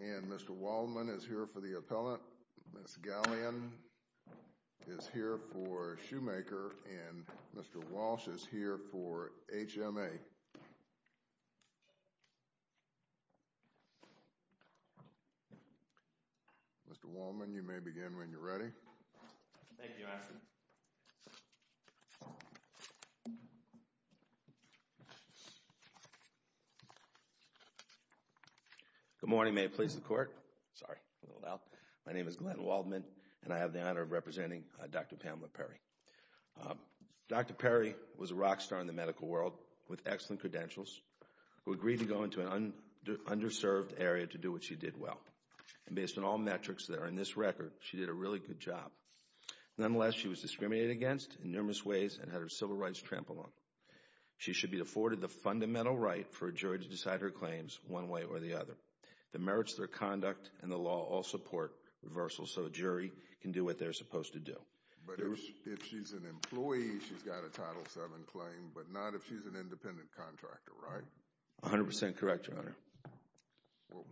and Mr. Waldman is here for the appellate. Ms. Galleon is here for Schumacher and Mr. Walsh is here for HMA. Mr. Waldman, you may begin when you're ready. Good morning. May it please the court. Sorry, a little loud. My name is Glenn Waldman and I have the honor of representing Dr. Pamela Perry. Dr. Perry was a rock star in the medical world with excellent credentials who agreed to go into an underserved area to do what she did well. And based on all metrics that are in this record, she did a really good job. Nonetheless, she was discriminated against in numerous ways and had her civil rights trampled on. She should be afforded the fundamental right for a jury to decide her claims one way or the other. The merits of their conduct and the law all support reversal so a jury can do what they're supposed to do. But if she's an employee, she's got a Title VII claim, but not if she's an independent contractor, right? 100% correct, Your Honor. Well,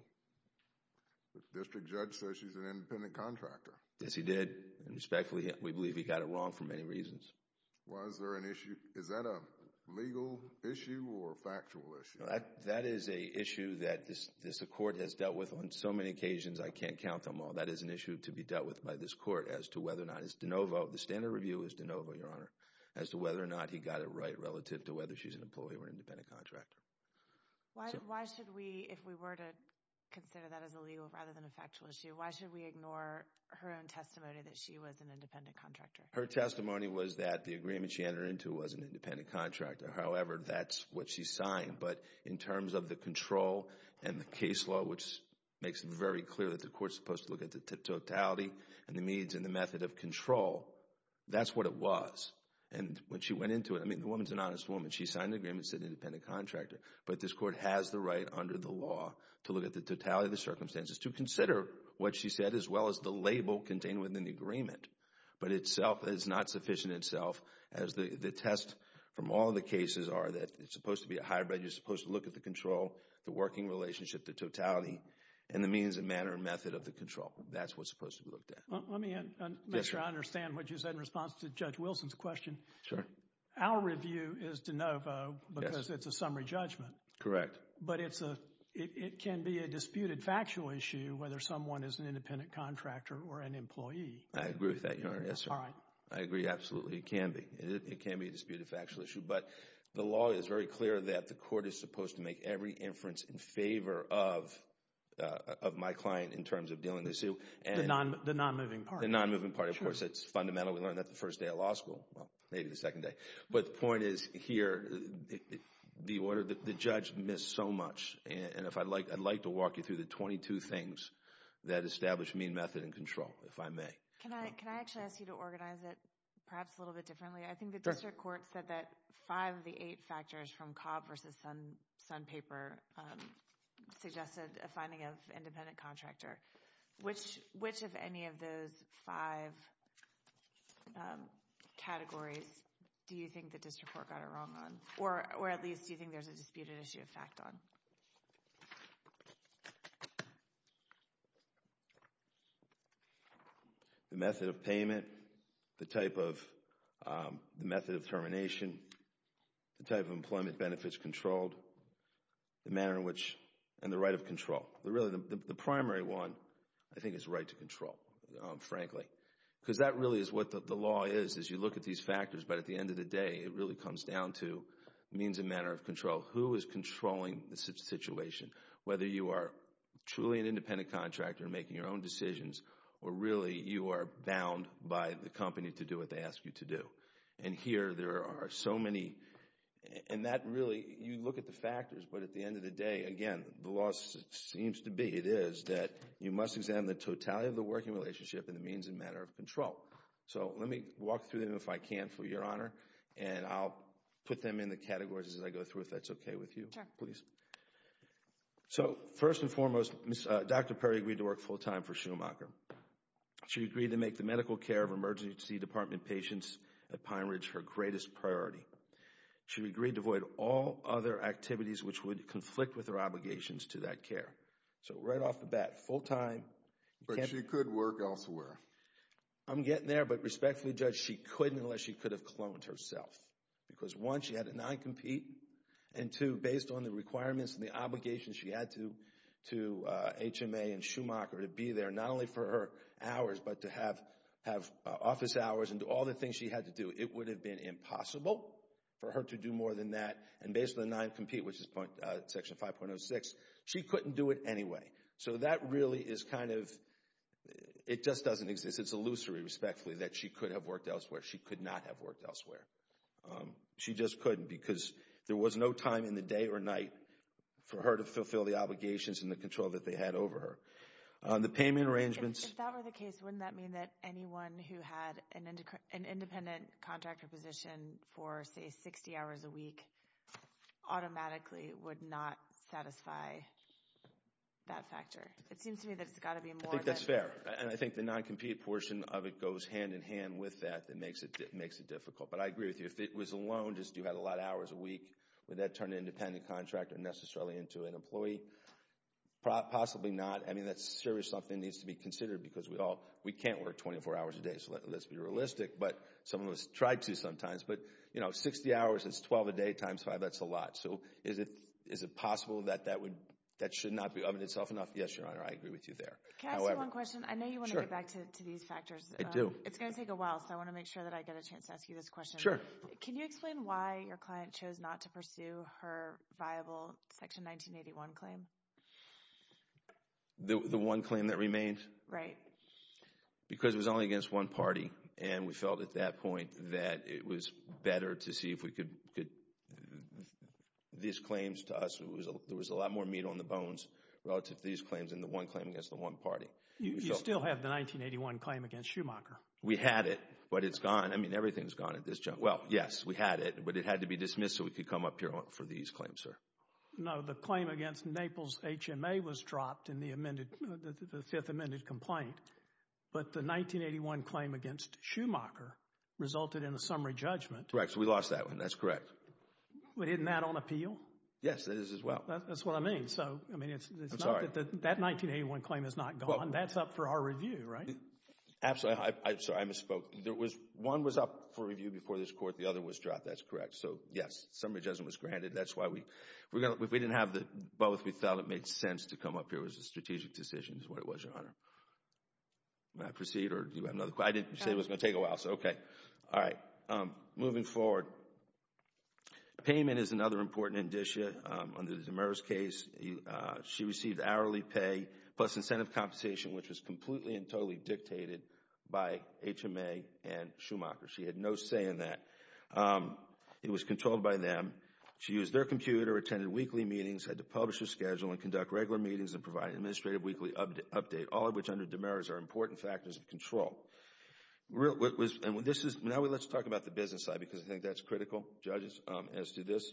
the district judge says she's an independent contractor. Yes, he did. Respectfully, we believe he got it wrong for many reasons. Was there an issue? Is that a legal issue or a factual issue? That is an issue that this court has dealt with on so many occasions I can't count them all. That is an issue to be dealt with by this court as to whether or not it's de novo. The standard review is de novo, Your Honor, as to whether or not he got it right relative to whether she's an employee or an independent contractor. Why should we, if we were to consider that as a legal rather than a factual issue, why should we ignore her own testimony that she was an independent contractor? Her testimony was that the agreement she entered into was an independent contractor. However, that's what she signed. But in terms of the control and the case law, which makes it very clear that the court's supposed to look at the totality and the means and the method of control, that's what it was. And when she went into it, I mean, the woman's an honest woman. She signed the agreement and said independent contractor. But this court has the right under the law to look at the totality of the circumstances to consider what she said as well as the label contained within the agreement. But itself, it's not sufficient itself as the test from all the cases are that it's supposed to be a hybrid. You're supposed to look at the control, the working relationship, the totality, and the means and manner and method of the control. That's what's supposed to be looked at. Let me add, Mr. I understand what you said in response to Judge Wilson's question. Sure. Our review is de novo because it's a summary judgment. Correct. But it's a, it can be a disputed factual issue whether someone is an independent contractor or an employee. I agree with that, Your Honor. Yes, sir. All right. I agree, absolutely. It can be. It can be a disputed factual issue. But the law is very clear that the court is supposed to make every inference in favor of my client in terms of dealing the suit. The non-moving party. The non-moving party. Of course, it's fundamental. We learned that the first day of law school. Well, maybe the second day. But the point is here, the order, the judge missed so much. And if I'd like, I'd like to walk you through the 22 things that establish mean method and control, if I may. Can I, can I actually ask you to organize it perhaps a little bit differently? I think the district court said that five of the eight factors from Cobb versus Sun, Sun paper suggested a finding of independent contractor. Which, which of any of those five categories do you think the district court got it wrong on? Or, or at least do you think there's a disputed issue of fact on? The method of payment. The type of, the method of termination. The type of employment benefits controlled. The manner in which, and the right of control. Really, the primary one, I think, is right to control, frankly. Because that really is what the law is, is you look at these factors, but at the end of the day, it really comes down to means and manner of control. Who is controlling the situation? Whether you are truly an independent contractor making your own decisions, or really you are bound by the company to do what they ask you to do. And here there are so many, and that really, you look at the factors, but at the end of the day, again, the law seems to be, it is, that you must examine the totality of the working relationship and the means and manner of control. So, let me walk through them, if I can, for your honor. And I'll put them in the categories as I go through, if that's okay with you. Sure. Please. So, first and foremost, Dr. Perry agreed to work full time for Schumacher. She agreed to make the medical care of emergency department patients at Pine Ridge her greatest priority. She agreed to avoid all other activities which would conflict with her obligations to that care. So, right off the bat, full time. But she could work elsewhere. I'm getting there, but respectfully, Judge, she couldn't unless she could have cloned herself. Because, one, she had to non-compete. And, two, based on the requirements and the obligations she had to HMA and Schumacher to be there, not only for her hours, but to have office hours and do all the things she had to do, it would have been impossible for her to do more than that. And based on the non-compete, which is Section 5.06, she couldn't do it anyway. So, that really is kind of, it just doesn't exist. It's illusory, respectfully, that she could have worked elsewhere. She could not have worked elsewhere. She just couldn't because there was no time in the day or night for her to fulfill the obligations and the control that they had over her. The payment arrangements. If that were the case, wouldn't that mean that anyone who had an independent contractor position for, say, 60 hours a week, automatically would not satisfy that factor? It seems to me that it's got to be more than that. I think that's fair. And I think the non-compete portion of it goes hand in hand with that that makes it difficult. But I agree with you. If it was a loan, just you had a lot of hours a week, would that turn an independent contractor necessarily into an employee? Possibly not. I mean, that's a serious something that needs to be considered because we can't work 24 hours a day. So, let's be realistic. But some of us try to sometimes. But, you know, 60 hours is 12 a day times 5. That's a lot. So, is it possible that that should not be of itself enough? Yes, Your Honor, I agree with you there. Can I ask you one question? I know you want to get back to these factors. I do. It's going to take a while, so I want to make sure that I get a chance to ask you this question. Sure. Can you explain why your client chose not to pursue her viable Section 1981 claim? The one claim that remained? Right. Because it was only against one party, and we felt at that point that it was better to see if we could. These claims to us, there was a lot more meat on the bones relative to these claims than the one claim against the one party. You still have the 1981 claim against Schumacher. We had it, but it's gone. I mean, everything's gone at this juncture. Well, yes, we had it, but it had to be dismissed so we could come up here for these claims, sir. No, the claim against Naples HMA was dropped in the Fifth Amended Complaint, but the 1981 claim against Schumacher resulted in a summary judgment. Correct. So we lost that one. That's correct. But isn't that on appeal? Yes, it is as well. That's what I mean. I'm sorry. That 1981 claim is not gone. That's up for our review, right? Absolutely. I'm sorry. I misspoke. One was up for review before this Court. The other was dropped. That's correct. So, yes, summary judgment was granted. That's why we didn't have both. We felt it made sense to come up here. It was a strategic decision, is what it was, Your Honor. May I proceed? I didn't say it was going to take a while. Okay. All right. Moving forward. Payment is another important indicia. Under the Demers case, she received hourly pay plus incentive compensation, which was completely and totally dictated by HMA and Schumacher. She had no say in that. It was controlled by them. She used their computer, attended weekly meetings, had to publish her schedule and conduct regular meetings and provide an administrative weekly update, all of which under Demers are important factors of control. Now let's talk about the business side because I think that's critical, judges, as to this.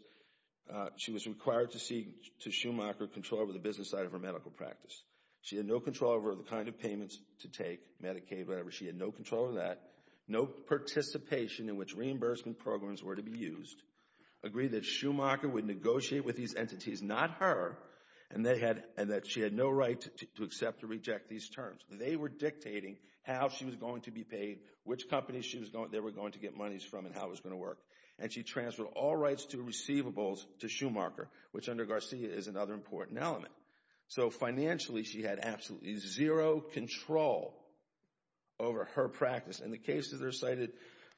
She was required to seek, to Schumacher, control over the business side of her medical practice. She had no control over the kind of payments to take, Medicaid, whatever. She had no control over that. No participation in which reimbursement programs were to be used. Agreed that Schumacher would negotiate with these entities, not her, and that she had no right to accept or reject these terms. They were dictating how she was going to be paid, which companies they were going to get monies from and how it was going to work. And she transferred all rights to receivables to Schumacher, which under Garcia is another important element. So financially, she had absolutely zero control over her practice. And the cases are cited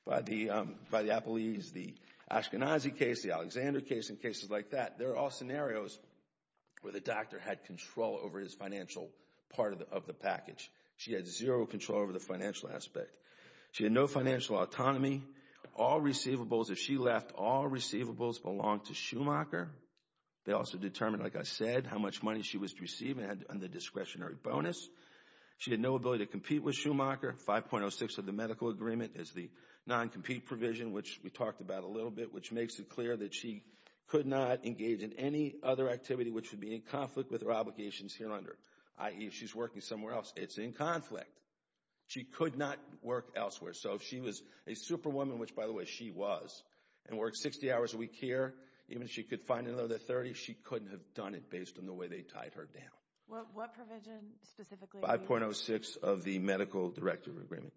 by the Applees, the Ashkenazi case, the Alexander case, and cases like that. They're all scenarios where the doctor had control over his financial part of the package. She had zero control over the financial aspect. She had no financial autonomy. All receivables, if she left, all receivables belonged to Schumacher. They also determined, like I said, how much money she was to receive and had the discretionary bonus. She had no ability to compete with Schumacher. 5.06 of the medical agreement is the non-compete provision, which we talked about a little bit, which makes it clear that she could not engage in any other activity which would be in conflict with her obligations here under, i.e., if she's working somewhere else. It's in conflict. She could not work elsewhere. So if she was a superwoman, which, by the way, she was, and worked 60 hours a week here, even if she could find another 30, she couldn't have done it based on the way they tied her down. What provision specifically? 5.06 of the medical directive agreement.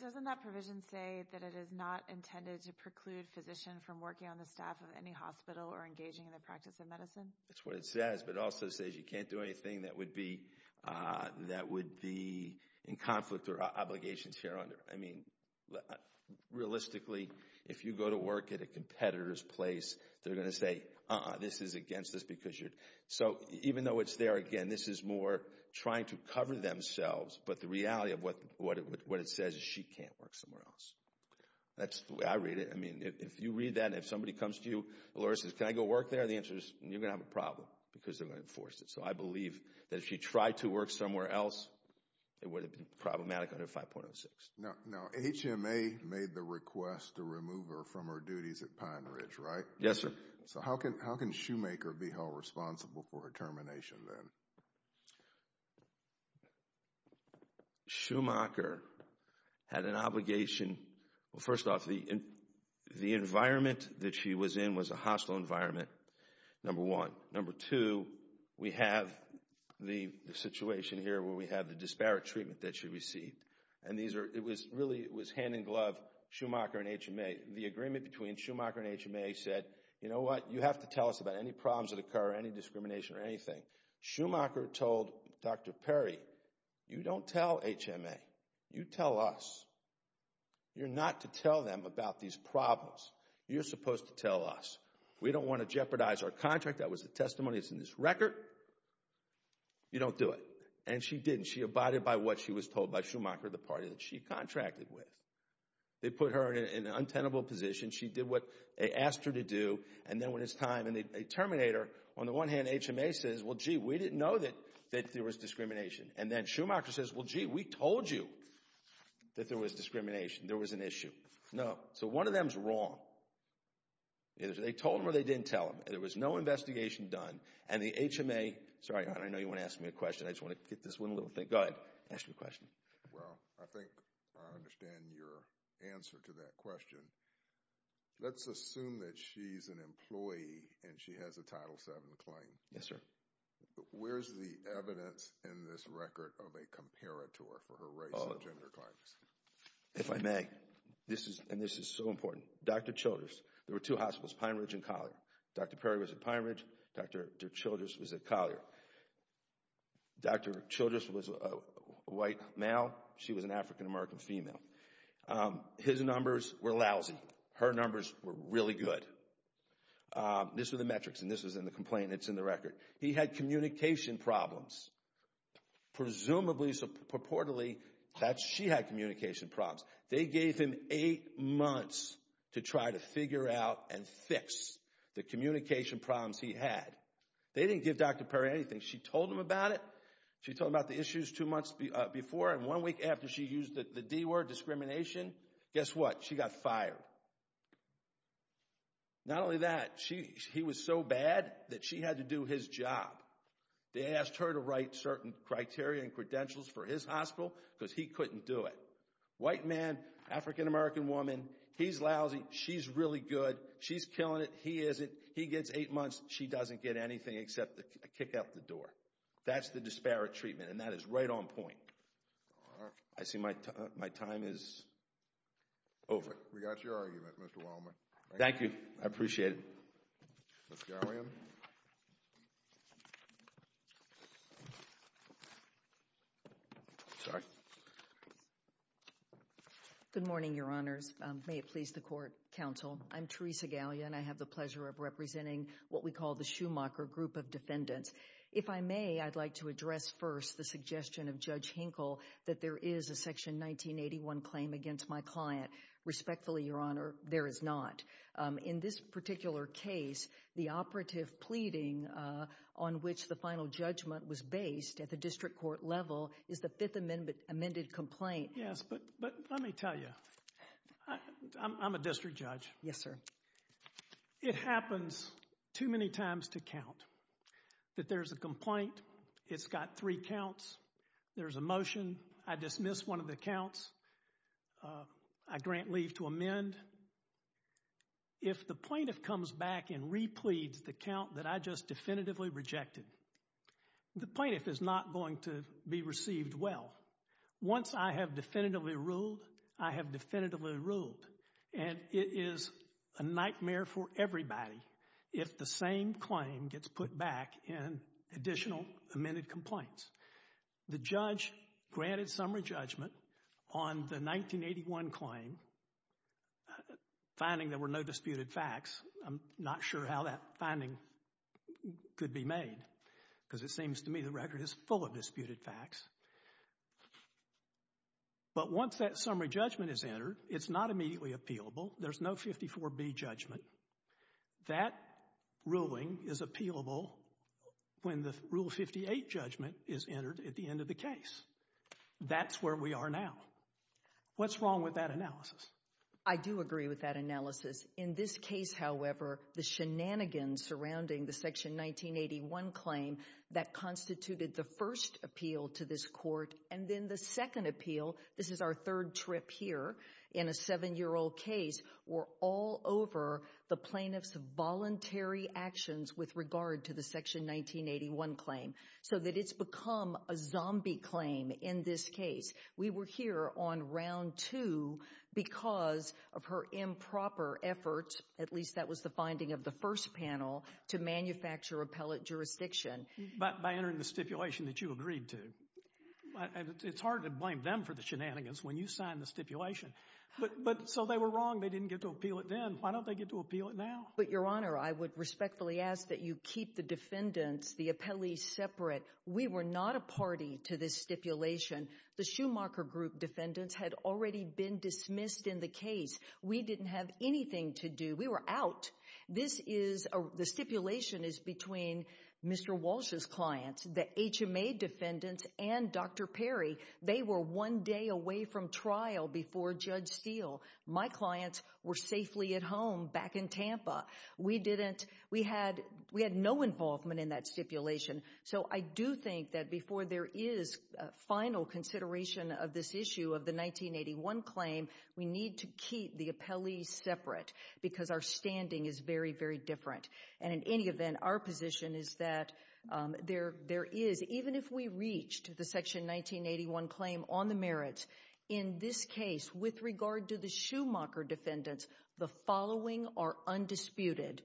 Doesn't that provision say that it is not intended to preclude a physician from working on the staff of any hospital or engaging in the practice of medicine? That's what it says, but it also says you can't do anything that would be in conflict or obligations here under. I mean, realistically, if you go to work at a competitor's place, they're going to say, uh-uh, this is against us because you're. So even though it's there, again, this is more trying to cover themselves, but the reality of what it says is she can't work somewhere else. That's the way I read it. I mean, if you read that and if somebody comes to you and says, can I go work there, the answer is you're going to have a problem because they're going to enforce it. So I believe that if she tried to work somewhere else, it would have been problematic under 5.06. Now HMA made the request to remove her from her duties at Pine Ridge, right? Yes, sir. So how can Shoemaker be held responsible for a termination then? Shoemaker had an obligation. Well, first off, the environment that she was in was a hostile environment, number one. Number two, we have the situation here where we have the disparate treatment that she received, and it really was hand-in-glove Shoemaker and HMA. The agreement between Shoemaker and HMA said, you know what, you have to tell us about any problems that occur, any discrimination or anything. Shoemaker told Dr. Perry, you don't tell HMA. You tell us. You're not to tell them about these problems. You're supposed to tell us. We don't want to jeopardize our contract. That was the testimony that's in this record. You don't do it. And she didn't. She abided by what she was told by Shoemaker, the party that she contracted with. They put her in an untenable position. She did what they asked her to do. And then when it's time, and a terminator, on the one hand HMA says, well, gee, we didn't know that there was discrimination. And then Shoemaker says, well, gee, we told you that there was discrimination. There was an issue. No. So one of them is wrong. They told him or they didn't tell him. There was no investigation done. And the HMA – sorry, I know you want to ask me a question. I just want to get this one little thing – go ahead, ask me a question. Well, I think I understand your answer to that question. Let's assume that she's an employee and she has a Title VII claim. Yes, sir. Where's the evidence in this record of a comparator for her race and gender claims? If I may, this is – and this is so important. Dr. Childress, there were two hospitals, Pine Ridge and Collier. Dr. Perry was at Pine Ridge. Dr. Childress was at Collier. Dr. Childress was a white male. She was an African-American female. His numbers were lousy. Her numbers were really good. This was the metrics, and this was in the complaint that's in the record. He had communication problems. Presumably, purportedly, that she had communication problems. They gave him eight months to try to figure out and fix the communication problems he had. They didn't give Dr. Perry anything. She told him about it. She told him about the issues two months before and one week after she used the D word, discrimination. Guess what? She got fired. Not only that, he was so bad that she had to do his job. They asked her to write certain criteria and credentials for his hospital because he couldn't do it. White man, African-American woman, he's lousy. She's really good. She's killing it. He isn't. He gets eight months. She doesn't get anything except a kick out the door. That's the disparate treatment, and that is right on point. I see my time is over. We got your argument, Mr. Wallman. Thank you. I appreciate it. Ms. Gallian. Sorry. Good morning, Your Honors. May it please the court, counsel. I'm Teresa Gallian. I have the pleasure of representing what we call the Schumacher Group of Defendants. If I may, I'd like to address first the suggestion of Judge Hinkle that there is a Section 1981 claim against my client. Respectfully, Your Honor, there is not. In this particular case, the operative pleading on which the final judgment was based at the district court level is the Fifth Amended Complaint. Yes, but let me tell you, I'm a district judge. Yes, sir. It happens too many times to count that there's a complaint. It's got three counts. There's a motion. I dismiss one of the counts. I grant leave to amend. If the plaintiff comes back and repleads the count that I just definitively rejected, the plaintiff is not going to be received well. Once I have definitively ruled, I have definitively ruled, and it is a nightmare for everybody if the same claim gets put back in additional amended complaints. The judge granted summary judgment on the 1981 claim, finding there were no disputed facts. I'm not sure how that finding could be made because it seems to me the record is full of disputed facts. But once that summary judgment is entered, it's not immediately appealable. There's no 54B judgment. That ruling is appealable when the Rule 58 judgment is entered at the end of the case. That's where we are now. What's wrong with that analysis? I do agree with that analysis. In this case, however, the shenanigans surrounding the Section 1981 claim that constituted the first appeal to this court and then the second appeal, this is our third trip here in a seven-year-old case, were all over the plaintiff's voluntary actions with regard to the Section 1981 claim so that it's become a zombie claim in this case. We were here on round two because of her improper efforts, at least that was the finding of the first panel, to manufacture appellate jurisdiction. But by entering the stipulation that you agreed to. It's hard to blame them for the shenanigans when you signed the stipulation. But so they were wrong. They didn't get to appeal it then. Why don't they get to appeal it now? But, Your Honor, I would respectfully ask that you keep the defendants, the appellees, separate. We were not a party to this stipulation. The Schumacher Group defendants had already been dismissed in the case. We didn't have anything to do. We were out. The stipulation is between Mr. Walsh's clients, the HMA defendants, and Dr. Perry. They were one day away from trial before Judge Steele. My clients were safely at home back in Tampa. We had no involvement in that stipulation. So I do think that before there is final consideration of this issue of the 1981 claim, we need to keep the appellees separate because our standing is very, very different. And in any event, our position is that there is, even if we reached the Section 1981 claim on the merits, in this case with regard to the Schumacher defendants, the following are undisputed.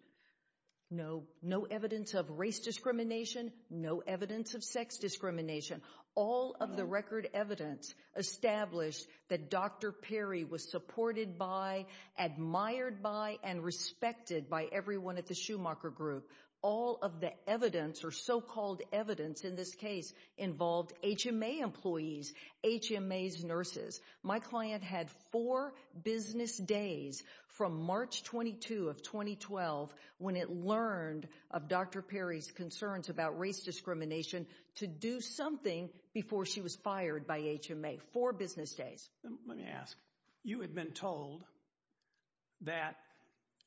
No evidence of race discrimination. No evidence of sex discrimination. All of the record evidence established that Dr. Perry was supported by, admired by, and respected by everyone at the Schumacher Group. All of the evidence, or so-called evidence in this case, involved HMA employees, HMA's nurses. My client had four business days from March 22 of 2012 when it learned of Dr. Perry's concerns about race discrimination to do something before she was fired by HMA. Four business days. Let me ask. You had been told that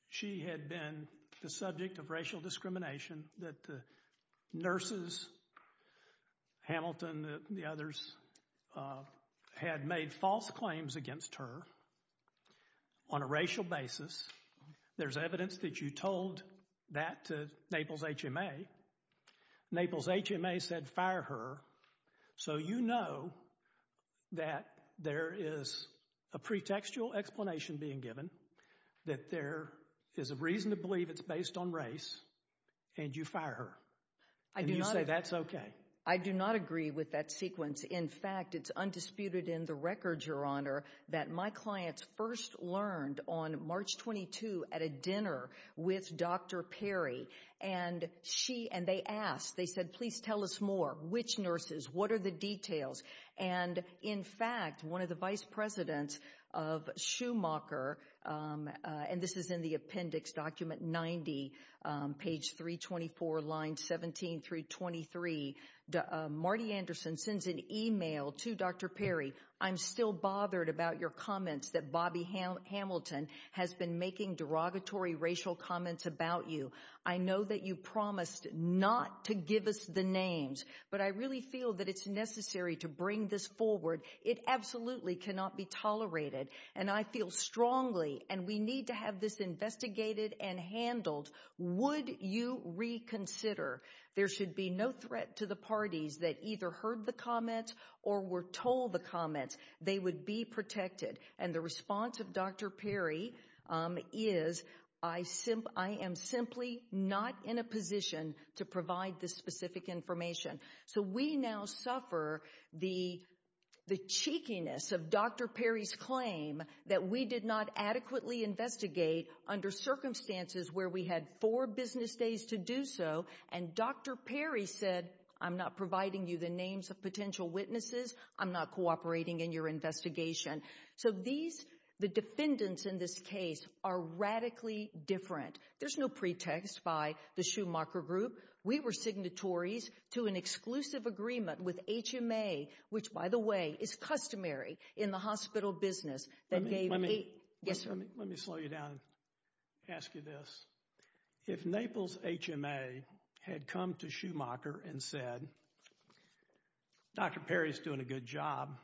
she had been the subject of racial discrimination, that the nurses, Hamilton and the others, had made false claims against her on a racial basis. There's evidence that you told that to Naples HMA. Naples HMA said, fire her. So you know that there is a pretextual explanation being given that there is a reason to believe it's based on race, and you fire her. And you say that's okay. I do not agree with that sequence. In fact, it's undisputed in the records, Your Honor, that my clients first learned on March 22 at a dinner with Dr. Perry, and they asked, they said, please tell us more. Which nurses? What are the details? And, in fact, one of the vice presidents of Schumacher, and this is in the appendix document 90, page 324, line 17 through 23, Marty Anderson sends an email to Dr. Perry, I'm still bothered about your comments that Bobby Hamilton has been making derogatory racial comments about you. I know that you promised not to give us the names, but I really feel that it's necessary to bring this forward. It absolutely cannot be tolerated, and I feel strongly, and we need to have this investigated and handled. Would you reconsider? There should be no threat to the parties that either heard the comments or were told the comments. They would be protected. And the response of Dr. Perry is, I am simply not in a position to provide this specific information. So we now suffer the cheekiness of Dr. Perry's claim that we did not adequately investigate under circumstances where we had four business days to do so, and Dr. Perry said, I'm not providing you the names of potential witnesses, I'm not cooperating in your investigation. So the defendants in this case are radically different. There's no pretext by the Schumacher Group. We were signatories to an exclusive agreement with HMA, which, by the way, is customary in the hospital business. Let me slow you down and ask you this. If Naples HMA had come to Schumacher and said, Dr. Perry's doing a good job,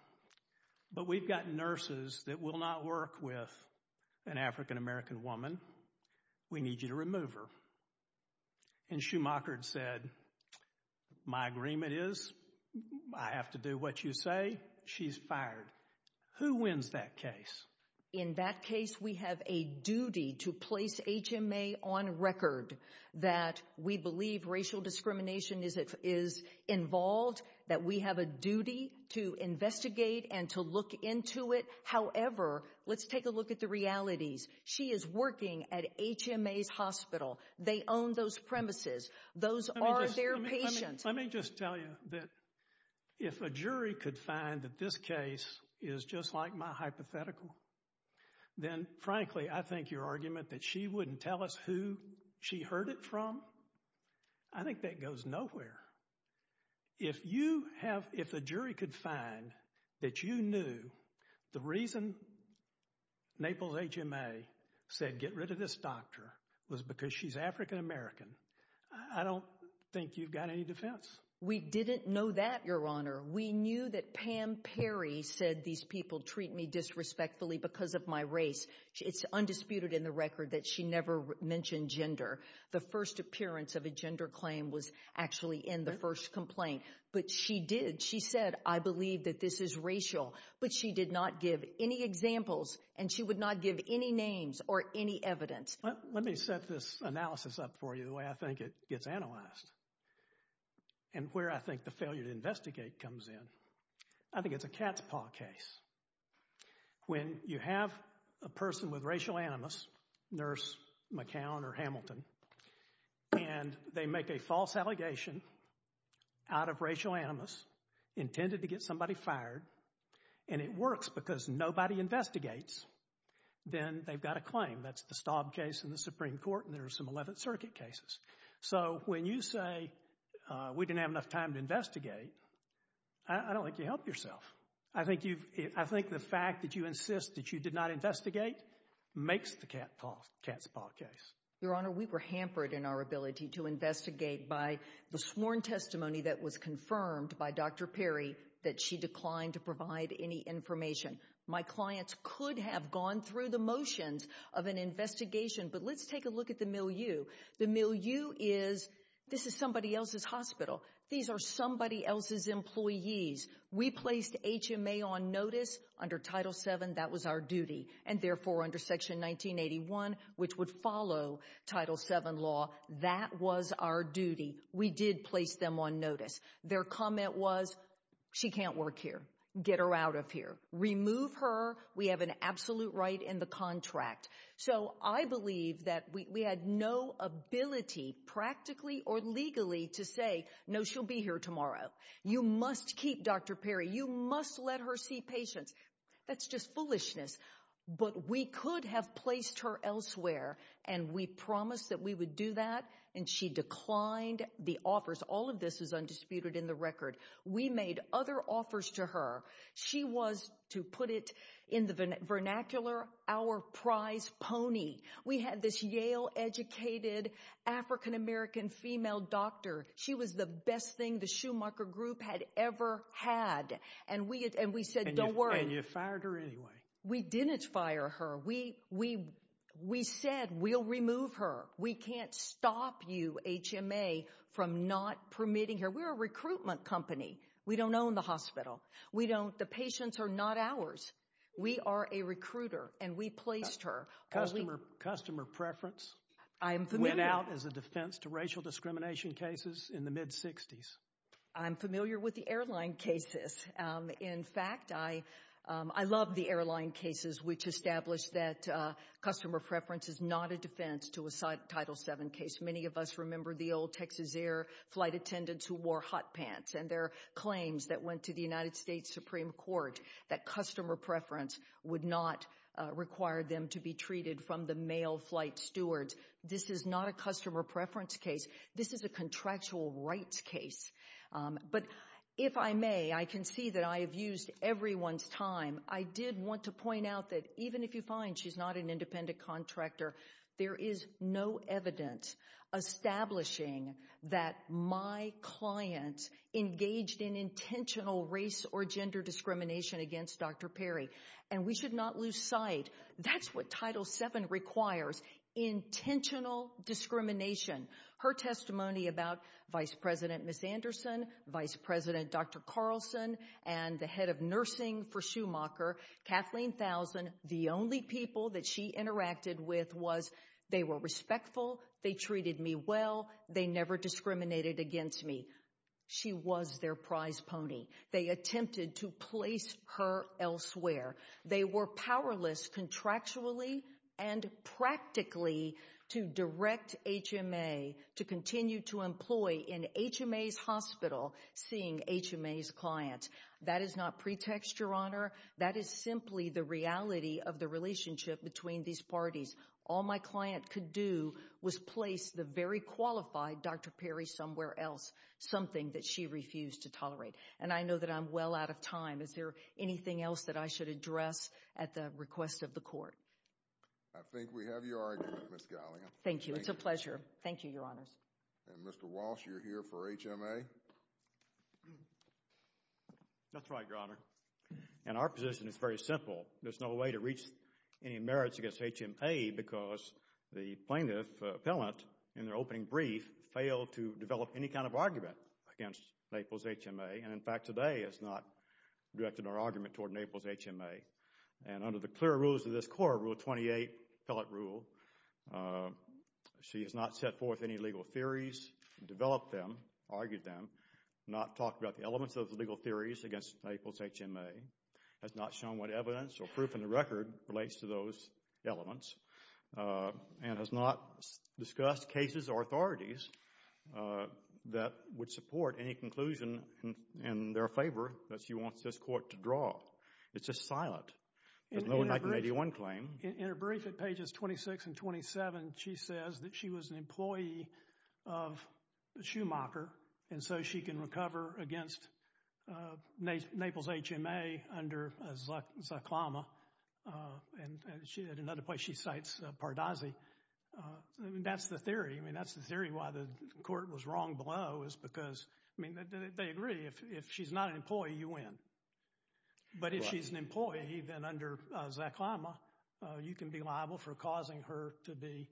but we've got nurses that will not work with an African-American woman. We need you to remove her. And Schumacher said, My agreement is I have to do what you say. She's fired. Who wins that case? In that case, we have a duty to place HMA on record that we believe racial discrimination is involved, that we have a duty to investigate and to look into it. However, let's take a look at the realities. She is working at HMA's hospital. They own those premises. Those are their patients. Let me just tell you that if a jury could find that this case is just like my hypothetical, then, frankly, I think your argument that she wouldn't tell us who she heard it from, I think that goes nowhere. If you have, if the jury could find that you knew the reason Naples HMA said get rid of this doctor was because she's African-American, I don't think you've got any defense. We didn't know that, Your Honor. We knew that Pam Perry said these people treat me disrespectfully because of my race. It's undisputed in the record that she never mentioned gender. The first appearance of a gender claim was actually in the first complaint. But she did. She said, I believe that this is racial. But she did not give any examples, and she would not give any names or any evidence. Let me set this analysis up for you the way I think it gets analyzed and where I think the failure to investigate comes in. I think it's a cat's paw case. When you have a person with racial animus, nurse McCown or Hamilton, and they make a false allegation out of racial animus intended to get somebody fired, and it works because nobody investigates, then they've got a claim. That's the Staub case in the Supreme Court, and there are some Eleventh Circuit cases. So when you say we didn't have enough time to investigate, I don't think you helped yourself. I think the fact that you insist that you did not investigate makes the cat's paw case. Your Honor, we were hampered in our ability to investigate by the sworn testimony that was confirmed by Dr. Perry that she declined to provide any information. My clients could have gone through the motions of an investigation, but let's take a look at the milieu. The milieu is this is somebody else's hospital. These are somebody else's employees. We placed HMA on notice under Title VII. That was our duty, and therefore under Section 1981, which would follow Title VII law, that was our duty. We did place them on notice. Their comment was she can't work here. Get her out of here. Remove her. We have an absolute right in the contract. So I believe that we had no ability practically or legally to say, no, she'll be here tomorrow. You must keep Dr. Perry. You must let her see patients. That's just foolishness. But we could have placed her elsewhere, and we promised that we would do that, and she declined the offers. All of this is undisputed in the record. We made other offers to her. She was, to put it in the vernacular, our prize pony. We had this Yale-educated African-American female doctor. She was the best thing the Schumacher Group had ever had, and we said don't worry. And you fired her anyway. We didn't fire her. We said we'll remove her. We can't stop you, HMA, from not permitting her. We're a recruitment company. We don't own the hospital. We don't. The patients are not ours. We are a recruiter, and we placed her. Customer preference went out as a defense to racial discrimination cases in the mid-'60s. I'm familiar with the airline cases. In fact, I love the airline cases, which established that customer preference is not a defense to a Title VII case. Many of us remember the old Texas Air flight attendants who wore hot pants and their claims that went to the United States Supreme Court that customer preference would not require them to be treated from the male flight stewards. This is not a customer preference case. This is a contractual rights case. But if I may, I can see that I have used everyone's time. I did want to point out that even if you find she's not an independent contractor, there is no evidence establishing that my client engaged in intentional race or gender discrimination against Dr. Perry. And we should not lose sight. That's what Title VII requires, intentional discrimination. Her testimony about Vice President Miss Anderson, Vice President Dr. Carlson, and the head of nursing for Schumacher, Kathleen Thousand, the only people that she interacted with was they were respectful, they treated me well, they never discriminated against me. She was their prize pony. They attempted to place her elsewhere. They were powerless contractually and practically to direct HMA to continue to employ in HMA's hospital, seeing HMA's clients. That is not pretext, Your Honor. That is simply the reality of the relationship between these parties. All my client could do was place the very qualified Dr. Perry somewhere else, something that she refused to tolerate. And I know that I'm well out of time. Is there anything else that I should address at the request of the Court? I think we have your argument, Ms. Gallia. Thank you. It's a pleasure. Thank you, Your Honors. And Mr. Walsh, you're here for HMA? That's right, Your Honor. And our position is very simple. There's no way to reach any merits against HMA because the plaintiff, appellant, in their opening brief failed to develop any kind of argument against Naples HMA. And, in fact, today has not directed our argument toward Naples HMA. And under the clear rules of this Court, Rule 28, appellate rule, she has not set forth any legal theories, developed them, argued them, not talked about the elements of the legal theories against Naples HMA, has not shown what evidence or proof in the record relates to those elements, and has not discussed cases or authorities that would support any conclusion in their favor that she wants this Court to draw. It's just silent. There's no 1981 claim. In her brief at pages 26 and 27, she says that she was an employee of Schumacher, and so she can recover against Naples HMA under a ZACLAMA. And at another place she cites Pardazi. That's the theory. I mean, that's the theory why the Court was wrong below is because, I mean, they agree. If she's not an employee, you win. But if she's an employee, then under ZACLAMA, you can be liable for causing her to be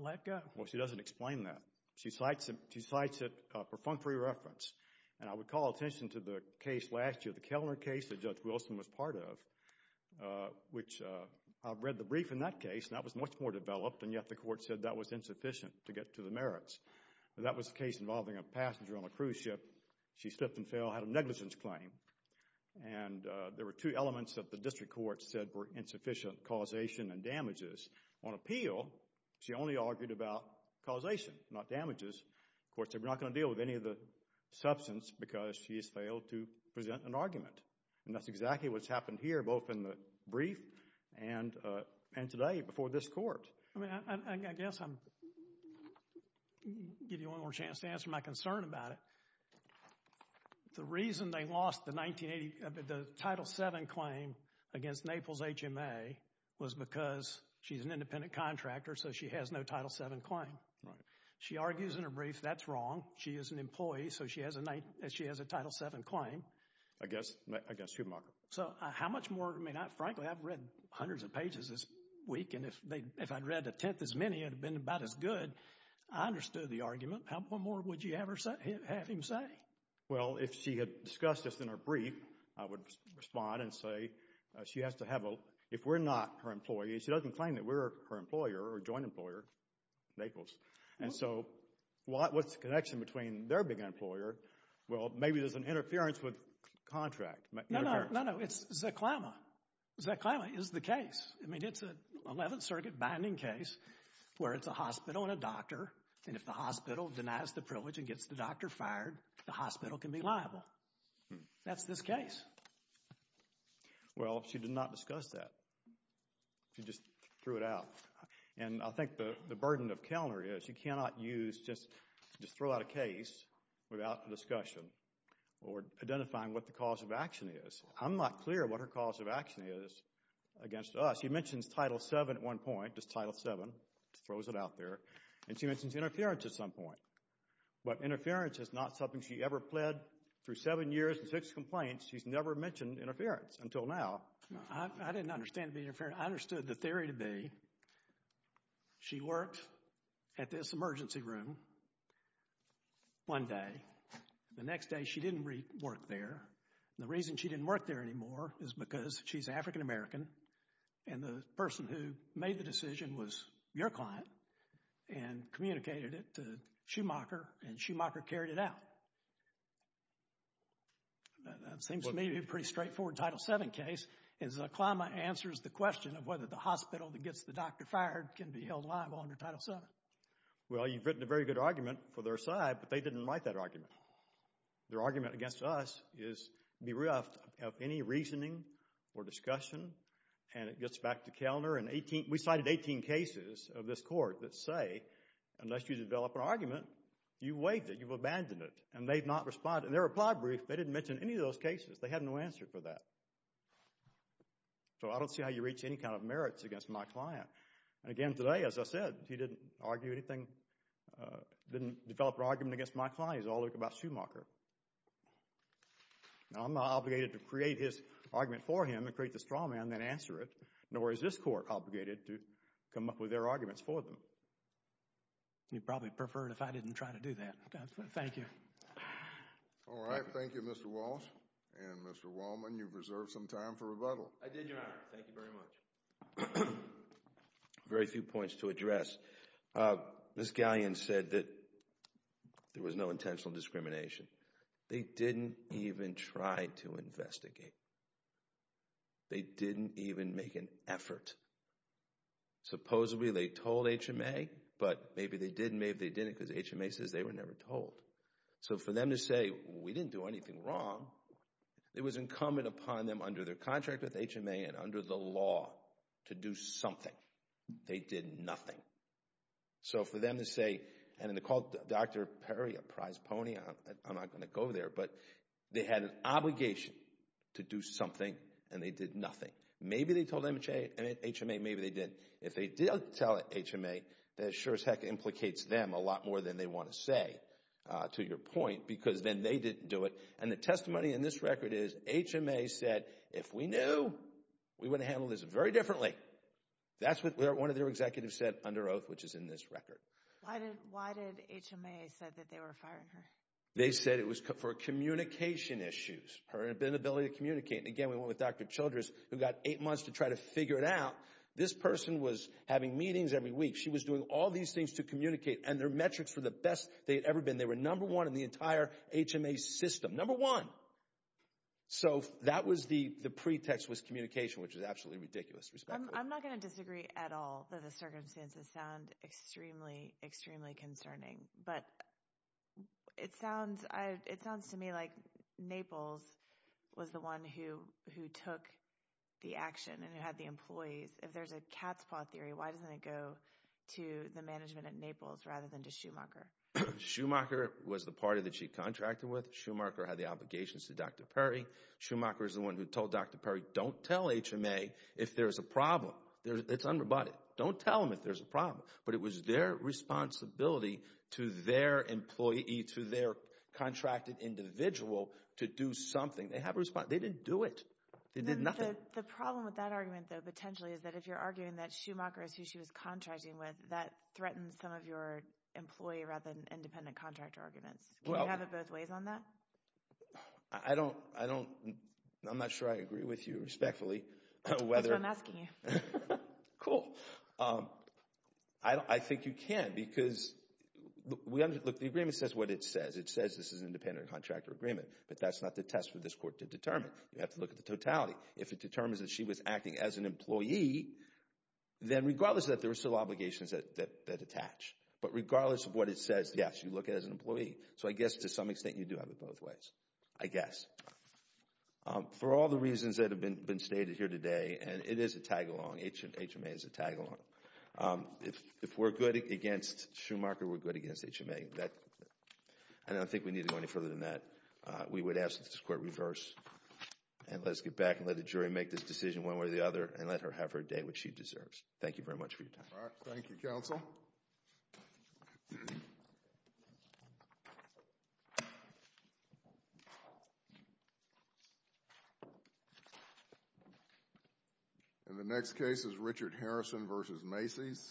let go. Well, she doesn't explain that. She cites it for functory reference. And I would call attention to the case last year, the Kellner case that Judge Wilson was part of, which I've read the brief in that case, and that was much more developed, and yet the Court said that was insufficient to get to the merits. That was a case involving a passenger on a cruise ship. She slipped and fell, had a negligence claim. And there were two elements that the District Court said were insufficient, causation and damages. On appeal, she only argued about causation, not damages. Of course, they're not going to deal with any of the substance because she has failed to present an argument. And that's exactly what's happened here, both in the brief and today before this Court. I mean, I guess I'll give you one more chance to answer my concern about it. The reason they lost the 1980 Title VII claim against Naples HMA was because she's an independent contractor, so she has no Title VII claim. Right. She argues in her brief that's wrong. She is an employee, so she has a Title VII claim. I guess you're marked. So how much more? I mean, frankly, I've read hundreds of pages this week, and if I'd read a tenth as many, it would have been about as good. I understood the argument. How much more would you have him say? Well, if she had discussed this in her brief, I would respond and say she has to have a— if we're not her employees, she doesn't claim that we're her employer or joint employer, Naples. And so what's the connection between their being an employer? Well, maybe there's an interference with contract. No, no. It's Zeklema. Zeklema is the case. I mean, it's an 11th Circuit binding case where it's a hospital and a doctor, and if the hospital denies the privilege and gets the doctor fired, the hospital can be liable. That's this case. Well, she did not discuss that. She just threw it out. And I think the burden of Kellner is you cannot use—just throw out a case without a discussion or identifying what the cause of action is. I'm not clear what her cause of action is against us. She mentions Title VII at one point, just Title VII, throws it out there, and she mentions interference at some point. But interference is not something she ever pled through seven years and six complaints. She's never mentioned interference until now. I didn't understand the interference. I understood the theory to be she worked at this emergency room one day. The next day she didn't work there. The reason she didn't work there anymore is because she's African American, and the person who made the decision was your client and communicated it to Schumacher, and Schumacher carried it out. That seems to me to be a pretty straightforward Title VII case. Zaklama answers the question of whether the hospital that gets the doctor fired can be held liable under Title VII. Well, you've written a very good argument for their side, but they didn't like that argument. Their argument against us is bereft of any reasoning or discussion, and it gets back to Kellner. We cited 18 cases of this court that say, unless you develop an argument, you've waived it, you've abandoned it, and they've not responded. In their reply brief, they didn't mention any of those cases. They had no answer for that. So I don't see how you reach any kind of merits against my client. Again, today, as I said, he didn't argue anything, didn't develop an argument against my client. He's all about Schumacher. Now, I'm not obligated to create his argument for him and create this drama and then answer it, nor is this court obligated to come up with their arguments for them. You'd probably prefer it if I didn't try to do that. Thank you. All right. Thank you, Mr. Walsh and Mr. Wallman. You've reserved some time for rebuttal. I did, Your Honor. Thank you very much. Very few points to address. Ms. Galleon said that there was no intentional discrimination. They didn't even try to investigate. They didn't even make an effort. Supposedly, they told HMA, but maybe they did, because HMA says they were never told. So for them to say, we didn't do anything wrong, it was incumbent upon them under their contract with HMA and under the law to do something. They did nothing. So for them to say, and to call Dr. Perry a prize pony, I'm not going to go there, but they had an obligation to do something, and they did nothing. Maybe they told HMA, maybe they didn't. If they did tell HMA, that sure as heck implicates them a lot more than they want to say, to your point, because then they didn't do it. And the testimony in this record is HMA said, if we knew, we would have handled this very differently. That's what one of their executives said under oath, which is in this record. Why did HMA say that they were firing her? They said it was for communication issues, her inability to communicate. Again, we went with Dr. Childress, who got eight months to try to figure it out. This person was having meetings every week. She was doing all these things to communicate, and their metrics were the best they had ever been. They were number one in the entire HMA system, number one. So that was the pretext was communication, which is absolutely ridiculous, respectfully. I'm not going to disagree at all that the circumstances sound extremely, extremely concerning, but it sounds to me like Naples was the one who took the action and who had the employees. If there's a cat's paw theory, why doesn't it go to the management at Naples rather than to Schumacher? Schumacher was the party that she contracted with. Schumacher had the obligations to Dr. Perry. Schumacher is the one who told Dr. Perry, don't tell HMA if there's a problem. It's unroboted. Don't tell them if there's a problem. But it was their responsibility to their employee, to their contracted individual, to do something. They didn't do it. They did nothing. The problem with that argument, though, potentially, is that if you're arguing that Schumacher is who she was contracting with, that threatens some of your employee rather than independent contractor arguments. Can you have it both ways on that? I'm not sure I agree with you respectfully. That's why I'm asking you. Cool. I think you can because the agreement says what it says. It says this is an independent contractor agreement, but that's not the test for this court to determine. You have to look at the totality. If it determines that she was acting as an employee, then regardless of that, there are still obligations that attach. But regardless of what it says, yes, you look at it as an employee. So I guess to some extent you do have it both ways, I guess. For all the reasons that have been stated here today, and it is a tag-along. HMA is a tag-along. If we're good against Schumacher, we're good against HMA. I don't think we need to go any further than that. We would ask that this court reverse and let us get back and let the jury make this decision one way or the other and let her have her day, which she deserves. Thank you very much for your time. All right. Thank you, counsel. And the next case is Richard Harrison v. Macy's.